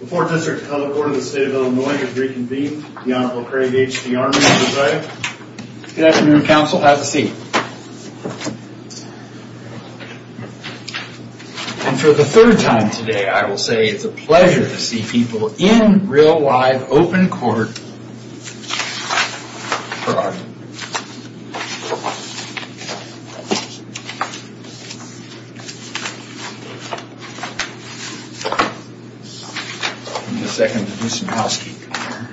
The 4th District Court of the State of Illinois has reconvened. The Honorable Craig H. D. Armey is presiding. Good afternoon counsel, have a seat. And for the third time today I will say it's a pleasure to see people in real live open court. I'll give you a second to do some housekeeping here.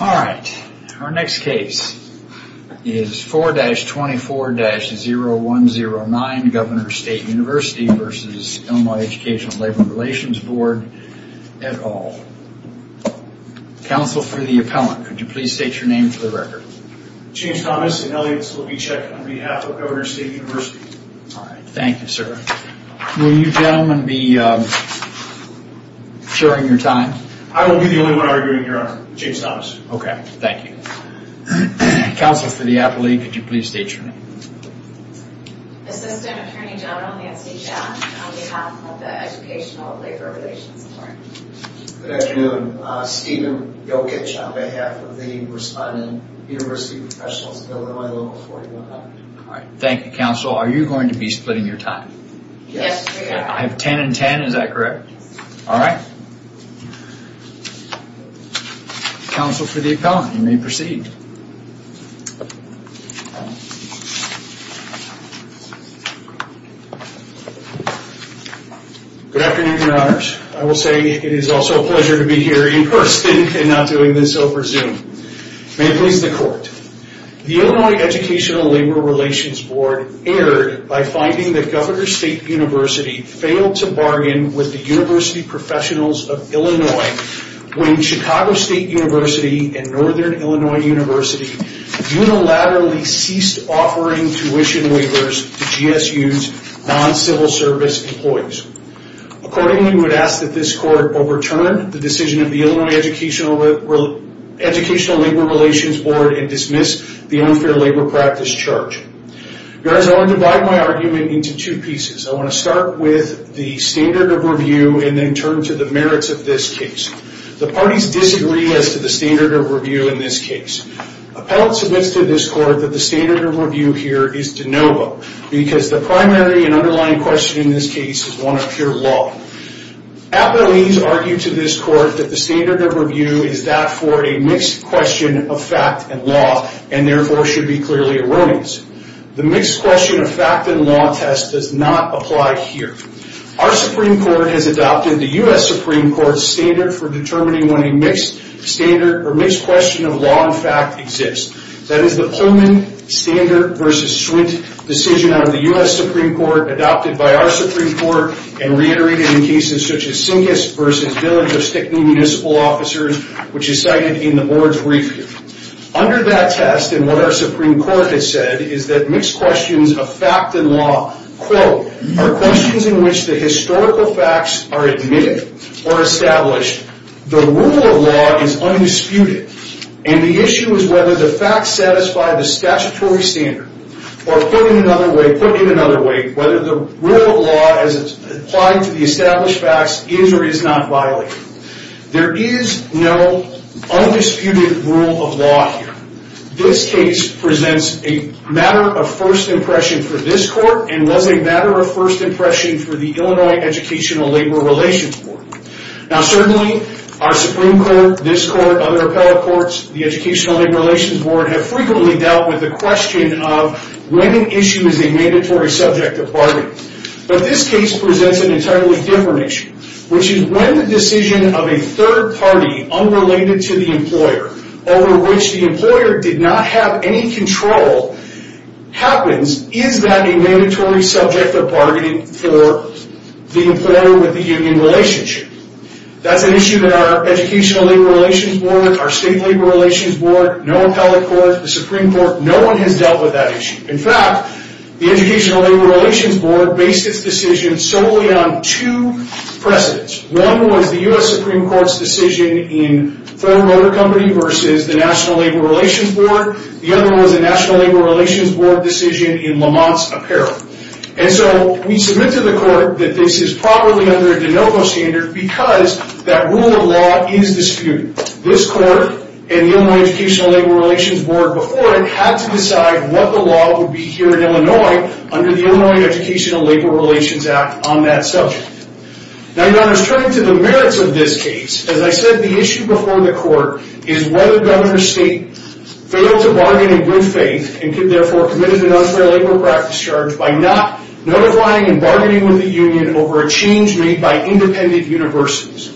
Alright, our next case is 4-24-0109 Governor's State University v. Illinois Educational Labor Relations Board at Hall. Counsel for the appellant, could you please state your name for the record. James Thomas and Elliotts will be checked on behalf of Governor's State University. Alright, thank you sir. Will you gentlemen be sharing your time? I will be the only one arguing here, Your Honor. James Thomas. Okay, thank you. Counsel for the appellate, could you please state your name. Assistant Attorney General Nancy Schaft on behalf of the Educational Labor Relations Board. Good afternoon, Stephen Gilkitch on behalf of the responding University Professionals of Illinois Law 4100. Alright, thank you counsel. Are you going to be splitting your time? Yes. I have 10 and 10, is that correct? Alright. Counsel for the appellant, you may proceed. Good afternoon, Your Honors. I will say it is also a pleasure to be here in person and not doing this over Zoom. May it please the court. The Illinois Educational Labor Relations Board erred by finding that Governor's State University failed to bargain with the University Professionals of Illinois when Chicago State University and Northern Illinois University unilaterally ceased offering tuition waivers to GSU's non-civil service employees. Accordingly, we would ask that this court overturn the decision of the Illinois Educational Labor Relations Board and dismiss the unfair labor practice charge. Your Honor, I want to divide my argument into two pieces. I want to start with the standard of review and then turn to the merits of this case. The parties disagree as to the standard of review in this case. Appellate submits to this court that the standard of review here is de novo because the primary and underlying question in this case is one of pure law. Appellees argue to this court that the standard of review is that for a mixed question of fact and law and therefore should be clearly erroneous. The mixed question of fact and law test does not apply here. Our Supreme Court has adopted the U.S. Supreme Court's standard for determining when a mixed question of law and fact exists. That is the Pullman-Standard v. Swint decision out of the U.S. Supreme Court adopted by our Supreme Court and reiterated in cases such as Sinkist v. Village of Stickney Municipal Officers, which is cited in the board's review. Under that test and what our Supreme Court has said is that mixed questions of fact and law, quote, are questions in which the historical facts are admitted or established. The rule of law is undisputed and the issue is whether the facts satisfy the statutory standard or put in another way, whether the rule of law as applied to the established facts is or is not violated. There is no undisputed rule of law here. This case presents a matter of first impression for this court and was a matter of first impression for the Illinois Educational Labor Relations Court. Now certainly our Supreme Court, this court, other appellate courts, the Educational Labor Relations Board have frequently dealt with the question of when an issue is a mandatory subject of bargaining. But this case presents an entirely different issue, which is when the decision of a third party unrelated to the employer over which the employer did not have any control happens, is that a mandatory subject of bargaining for the employer with the union relationship? That's an issue that our Educational Labor Relations Board, our State Labor Relations Board, no appellate court, the Supreme Court, no one has dealt with that issue. In fact, the Educational Labor Relations Board based its decision solely on two precedents. One was the U.S. Supreme Court's decision in Ford Motor Company versus the National Labor Relations Board. The other one was the National Labor Relations Board decision in Lamont's Apparel. And so we submit to the court that this is probably under a de novo standard because that rule of law is disputed. This court and the Illinois Educational Labor Relations Board before it had to decide what the law would be here in Illinois under the Illinois Educational Labor Relations Act on that subject. Now your Honor, turning to the merits of this case, as I said, the issue before the court is whether Governor State failed to bargain in good faith and could therefore commit an unfair labor practice charge by not notifying and bargaining with the union over a change made by independent universities.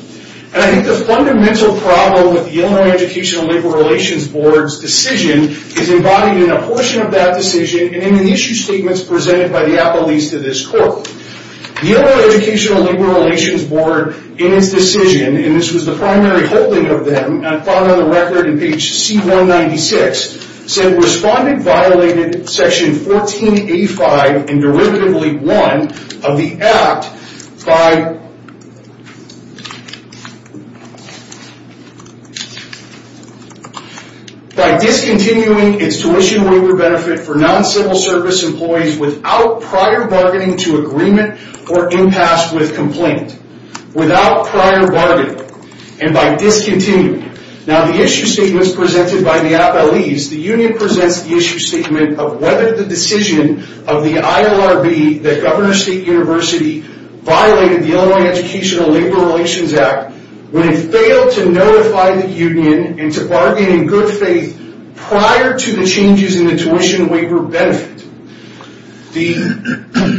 And I think the fundamental problem with the Illinois Educational Labor Relations Board's decision is embodied in a portion of that decision and in the issue statements presented by the appellees to this court. The Illinois Educational Labor Relations Board in its decision, and this was the primary holding of them and found on the record in page C196, said responded violated section 1485 and derivatively one of the act by by discontinuing its tuition waiver benefit for non-civil service employees without prior bargaining to agreement or impasse with complaint. Without prior bargaining and by discontinuing. Now the issue statements presented by the appellees, the union presents the issue statement of whether the decision of the ILRB that Governor State University violated the Illinois Educational Labor Relations Act when it failed to notify the union and to bargain in good faith prior to the changes in the tuition waiver benefit. The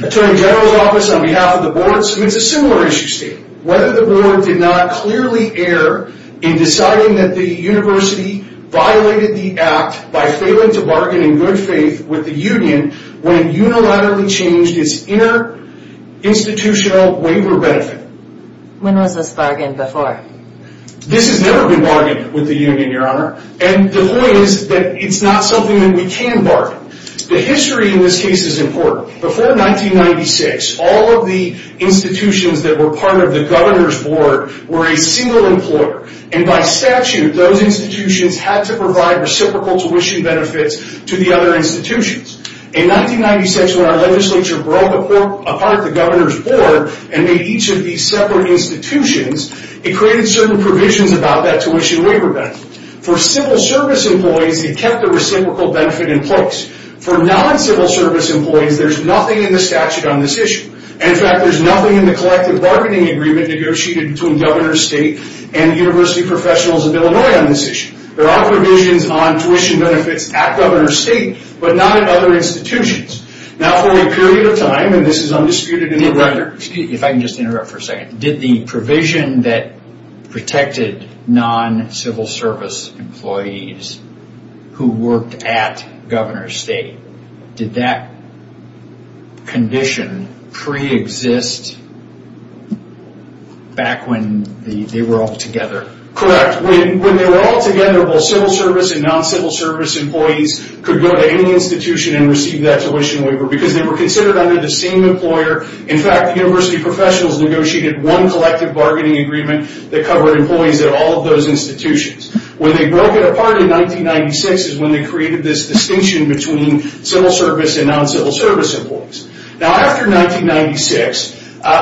Attorney General's office on behalf of the board submits a similar issue statement. Whether the board did not clearly err in deciding that the university violated the act by failing to bargain in good faith with the union when it unilaterally changed its inner institutional waiver benefit. When was this bargained before? This has never been bargained with the union, Your Honor. And the point is that it's not something that we can bargain. The history in this case is important. Before 1996, all of the institutions that were part of the governor's board were a single employer. And by statute, those institutions had to provide reciprocal tuition benefits to the other institutions. In 1996, when our legislature broke apart the governor's board and made each of these separate institutions, it created certain provisions about that tuition waiver benefit. For civil service employees, it kept the reciprocal benefit in place. For non-civil service employees, there's nothing in the statute on this issue. In fact, there's nothing in the collective bargaining agreement negotiated between Governor's State and University Professionals of Illinois on this issue. There are provisions on tuition benefits at Governor's State, but not at other institutions. Now, for a period of time, and this is undisputed in the record. Excuse me if I can just interrupt for a second. Did the provision that protected non-civil service employees who worked at Governor's State, did that condition pre-exist back when they were all together? Correct. When they were all together, both civil service and non-civil service employees could go to any institution and receive that tuition waiver because they were considered under the same employer. In fact, University Professionals negotiated one collective bargaining agreement that covered employees at all of those institutions. When they broke it apart in 1996 is when they created this distinction between civil service and non-civil service employees. Now, after 1996,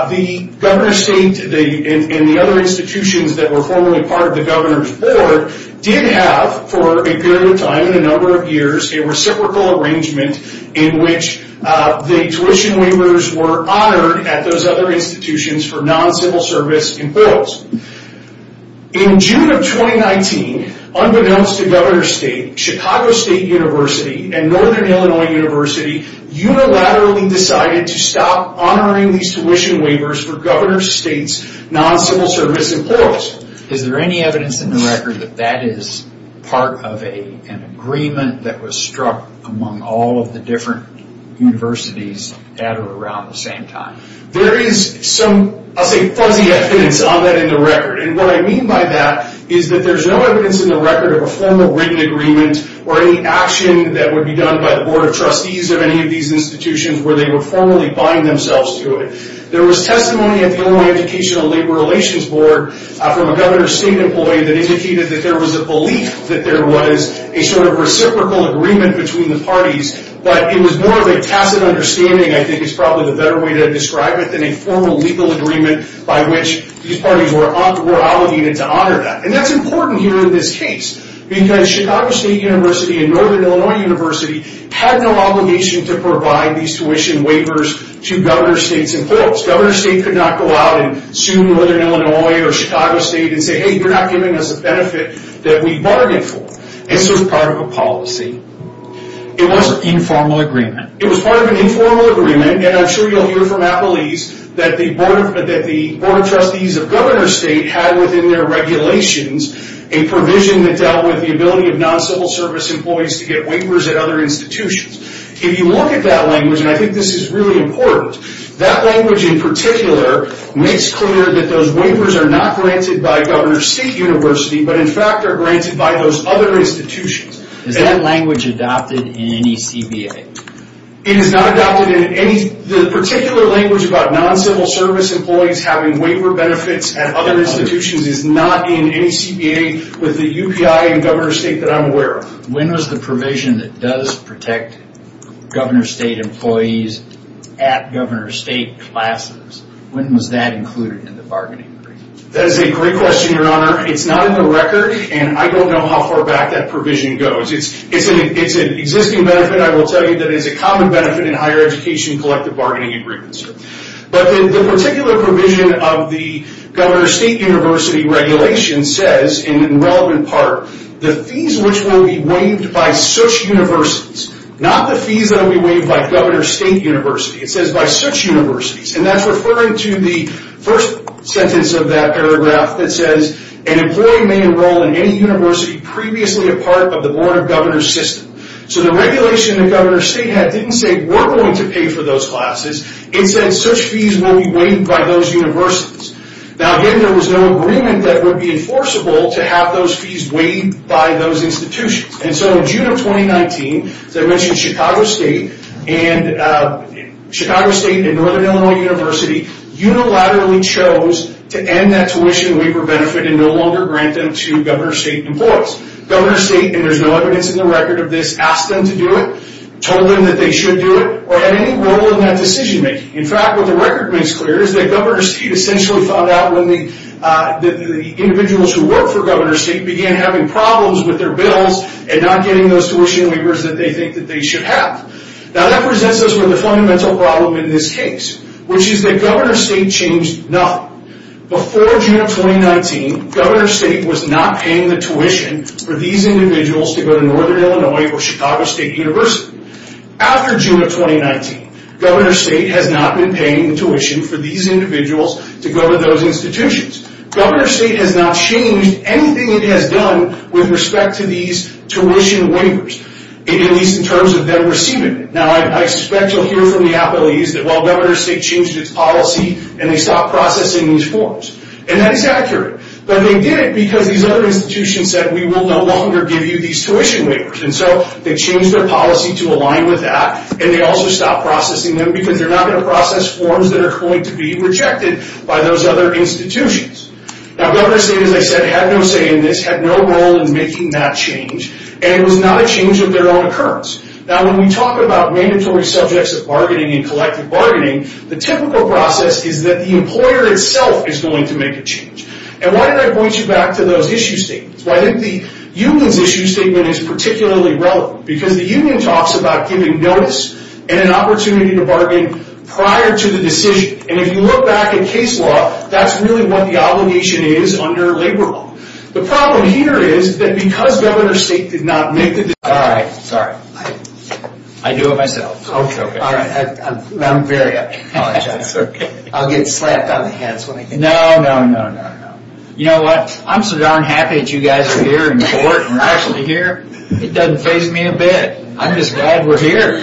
the Governor's State and the other institutions that were formerly part of the Governor's Board did have, for a period of time, in a number of years, a reciprocal arrangement in which the tuition waivers were honored at those other institutions for non-civil service employees. In June of 2019, unbeknownst to Governor's State, Chicago State University and Northern Illinois University unilaterally decided to stop honoring these tuition waivers for Governor's State's non-civil service employees. Is there any evidence in the record that that is part of an agreement that was struck among all of the different universities at or around the same time? There is some, I'll say, fuzzy evidence on that in the record. And what I mean by that is that there's no evidence in the record of a formal written agreement or any action that would be done by the Board of Trustees of any of these institutions where they would formally bind themselves to it. There was testimony at the Illinois Educational Labor Relations Board from a Governor's State employee that indicated that there was a belief that there was a sort of reciprocal agreement between the parties, but it was more of a tacit understanding, I think is probably the better way to describe it, than a formal legal agreement by which these parties were obligated to honor that. And that's important here in this case, because Chicago State University and Northern Illinois University had no obligation to provide these tuition waivers to Governor's State's employees. Governor's State could not go out and sue Northern Illinois or Chicago State and say, hey, you're not giving us a benefit that we bargained for. This was part of a policy. It was an informal agreement. It was part of an informal agreement, and I'm sure you'll hear from Apple East, that the Board of Trustees of Governor's State had within their regulations a provision that dealt with the ability of non-civil service employees to get waivers at other institutions. If you look at that language, and I think this is really important, that language in particular makes clear that those waivers are not granted by Governor's State University, but in fact are granted by those other institutions. Is that language adopted in any CBA? It is not adopted in any. The particular language about non-civil service employees having waiver benefits at other institutions is not in any CBA with the UPI and Governor's State that I'm aware of. When was the provision that does protect Governor's State employees at Governor's State classes, when was that included in the bargaining agreement? That is a great question, Your Honor. It's not in the record, and I don't know how far back that provision goes. It's an existing benefit. I will tell you that it's a common benefit in higher education collective bargaining agreements. But the particular provision of the Governor's State University regulation says, and in relevant part, the fees which will be waived by such universities, not the fees that will be waived by Governor's State University. It says by such universities, and that's referring to the first sentence of that paragraph that says, an employee may enroll in any university previously a part of the Board of Governors system. So the regulation that Governor's State had didn't say we're going to pay for those classes. It said such fees will be waived by those universities. Now, again, there was no agreement that would be enforceable to have those fees waived by those institutions. And so in June of 2019, as I mentioned, Chicago State and Northern Illinois University unilaterally chose to end that tuition waiver benefit and no longer grant them to Governor's State employees. Governor's State, and there's no evidence in the record of this, asked them to do it, told them that they should do it, or had any role in that decision making. In fact, what the record makes clear is that Governor's State essentially found out when the individuals who work for Governor's State began having problems with their bills and not getting those tuition waivers that they think that they should have. Now, that presents us with a fundamental problem in this case, which is that Governor's State changed nothing. Before June of 2019, Governor's State was not paying the tuition for these individuals to go to Northern Illinois or Chicago State University. After June of 2019, Governor's State has not been paying the tuition for these individuals to go to those institutions. Governor's State has not changed anything it has done with respect to these tuition waivers, at least in terms of them receiving it. Now, I suspect you'll hear from the appellees that, well, Governor's State changed its policy and they stopped processing these forms. And that is accurate. But they did it because these other institutions said, we will no longer give you these tuition waivers. And so they changed their policy to align with that. And they also stopped processing them because they're not going to process forms that are going to be rejected by those other institutions. Now, Governor's State, as I said, had no say in this, had no role in making that change. And it was not a change of their own occurrence. Now, when we talk about mandatory subjects of bargaining and collective bargaining, the typical process is that the employer itself is going to make a change. And why did I point you back to those issue statements? Well, I think the union's issue statement is particularly relevant because the union talks about giving notice and an opportunity to bargain prior to the decision. And if you look back at case law, that's really what the obligation is under labor law. The problem here is that because Governor's State did not make the decision. All right, sorry. I do it myself. Okay. All right. I'm very, I apologize. That's okay. I'll get slapped on the head. No, no, no, no. You know what? I'm so darn happy that you guys are here in court and we're actually here. It doesn't faze me a bit. I'm just glad we're here.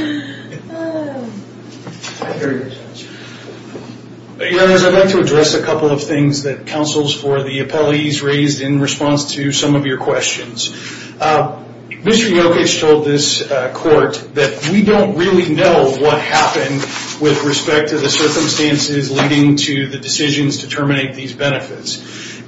Your Honors, I'd like to address a couple of things that counsels for the appellees raised in response to some of your questions. Mr. Jokic told this court that we don't really know what happened with respect to the circumstances leading to the decisions to terminate these benefits.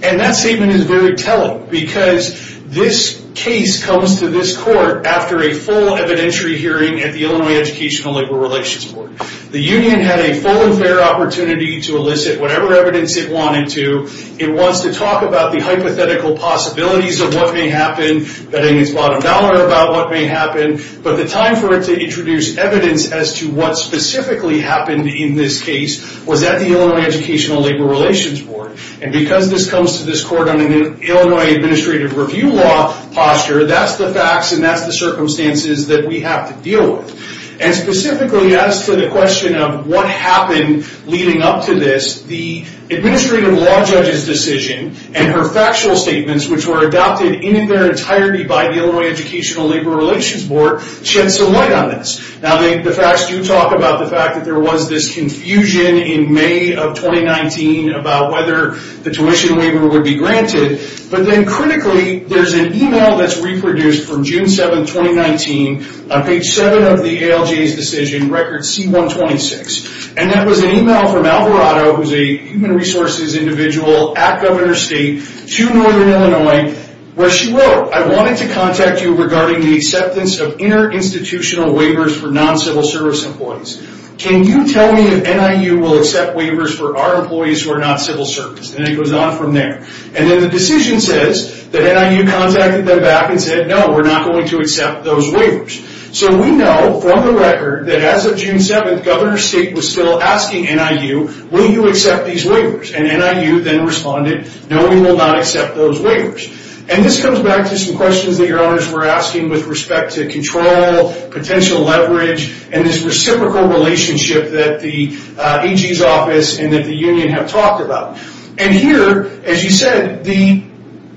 And that statement is very telling because this case comes to this court after a full evidentiary hearing at the Illinois Educational Labor Relations Board. The union had a full and fair opportunity to elicit whatever evidence it wanted to. It wants to talk about the hypothetical possibilities of what may happen, betting its bottom dollar about what may happen. But the time for it to introduce evidence as to what specifically happened in this case was at the Illinois Educational Labor Relations Board. And because this comes to this court under the Illinois Administrative Review Law posture, that's the facts and that's the circumstances that we have to deal with. And specifically as to the question of what happened leading up to this, the Administrative Law Judge's decision and her factual statements, which were adopted in their entirety by the Illinois Educational Labor Relations Board, shed some light on this. Now the facts do talk about the fact that there was this confusion in May of 2019 about whether the tuition waiver would be granted. But then critically, there's an email that's reproduced from June 7, 2019, on page 7 of the ALJ's decision, record C-126. And that was an email from Alvarado, who's a human resources individual at Governor State, to Northern Illinois, where she wrote, I wanted to contact you regarding the acceptance of inter-institutional waivers for non-civil service employees. Can you tell me if NIU will accept waivers for our employees who are not civil service? And it goes on from there. And then the decision says that NIU contacted them back and said, no, we're not going to accept those waivers. So we know from the record that as of June 7, Governor State was still asking NIU, will you accept these waivers? And NIU then responded, no, we will not accept those waivers. And this comes back to some questions that your Honors were asking with respect to control, potential leverage, and this reciprocal relationship that the AG's office and that the union have talked about. And here, as you said, the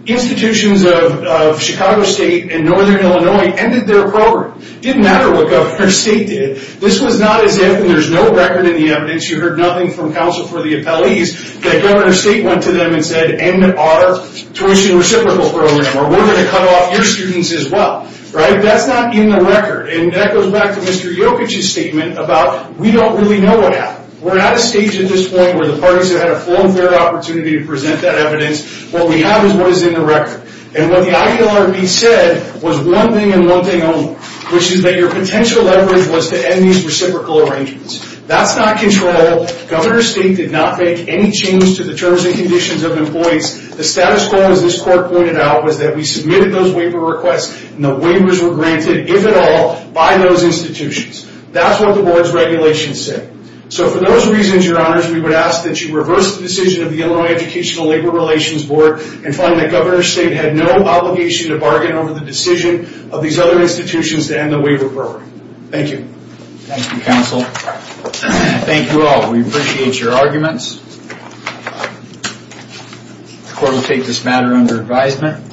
institutions of Chicago State and Northern Illinois ended their program. It didn't matter what Governor State did. This was not as if, and there's no record in the evidence, you heard nothing from counsel for the appellees, that Governor State went to them and said, end our tuition reciprocal program, or we're going to cut off your students as well. That's not in the record. And that goes back to Mr. Yokich's statement about we don't really know what happened. We're at a stage at this point where the parties have had a full and fair opportunity to present that evidence. What we have is what is in the record. And what the ILRB said was one thing and one thing only, which is that your potential leverage was to end these reciprocal arrangements. That's not control. Governor State did not make any change to the terms and conditions of employees. The status quo, as this court pointed out, was that we submitted those waiver requests, and the waivers were granted, if at all, by those institutions. That's what the board's regulations said. So for those reasons, Your Honors, we would ask that you reverse the decision of the Illinois Educational Labor Relations Board and find that Governor State had no obligation to bargain over the decision of these other institutions to end the waiver program. Thank you. Thank you, counsel. Thank you all. We appreciate your arguments. The court will take this matter under advisement.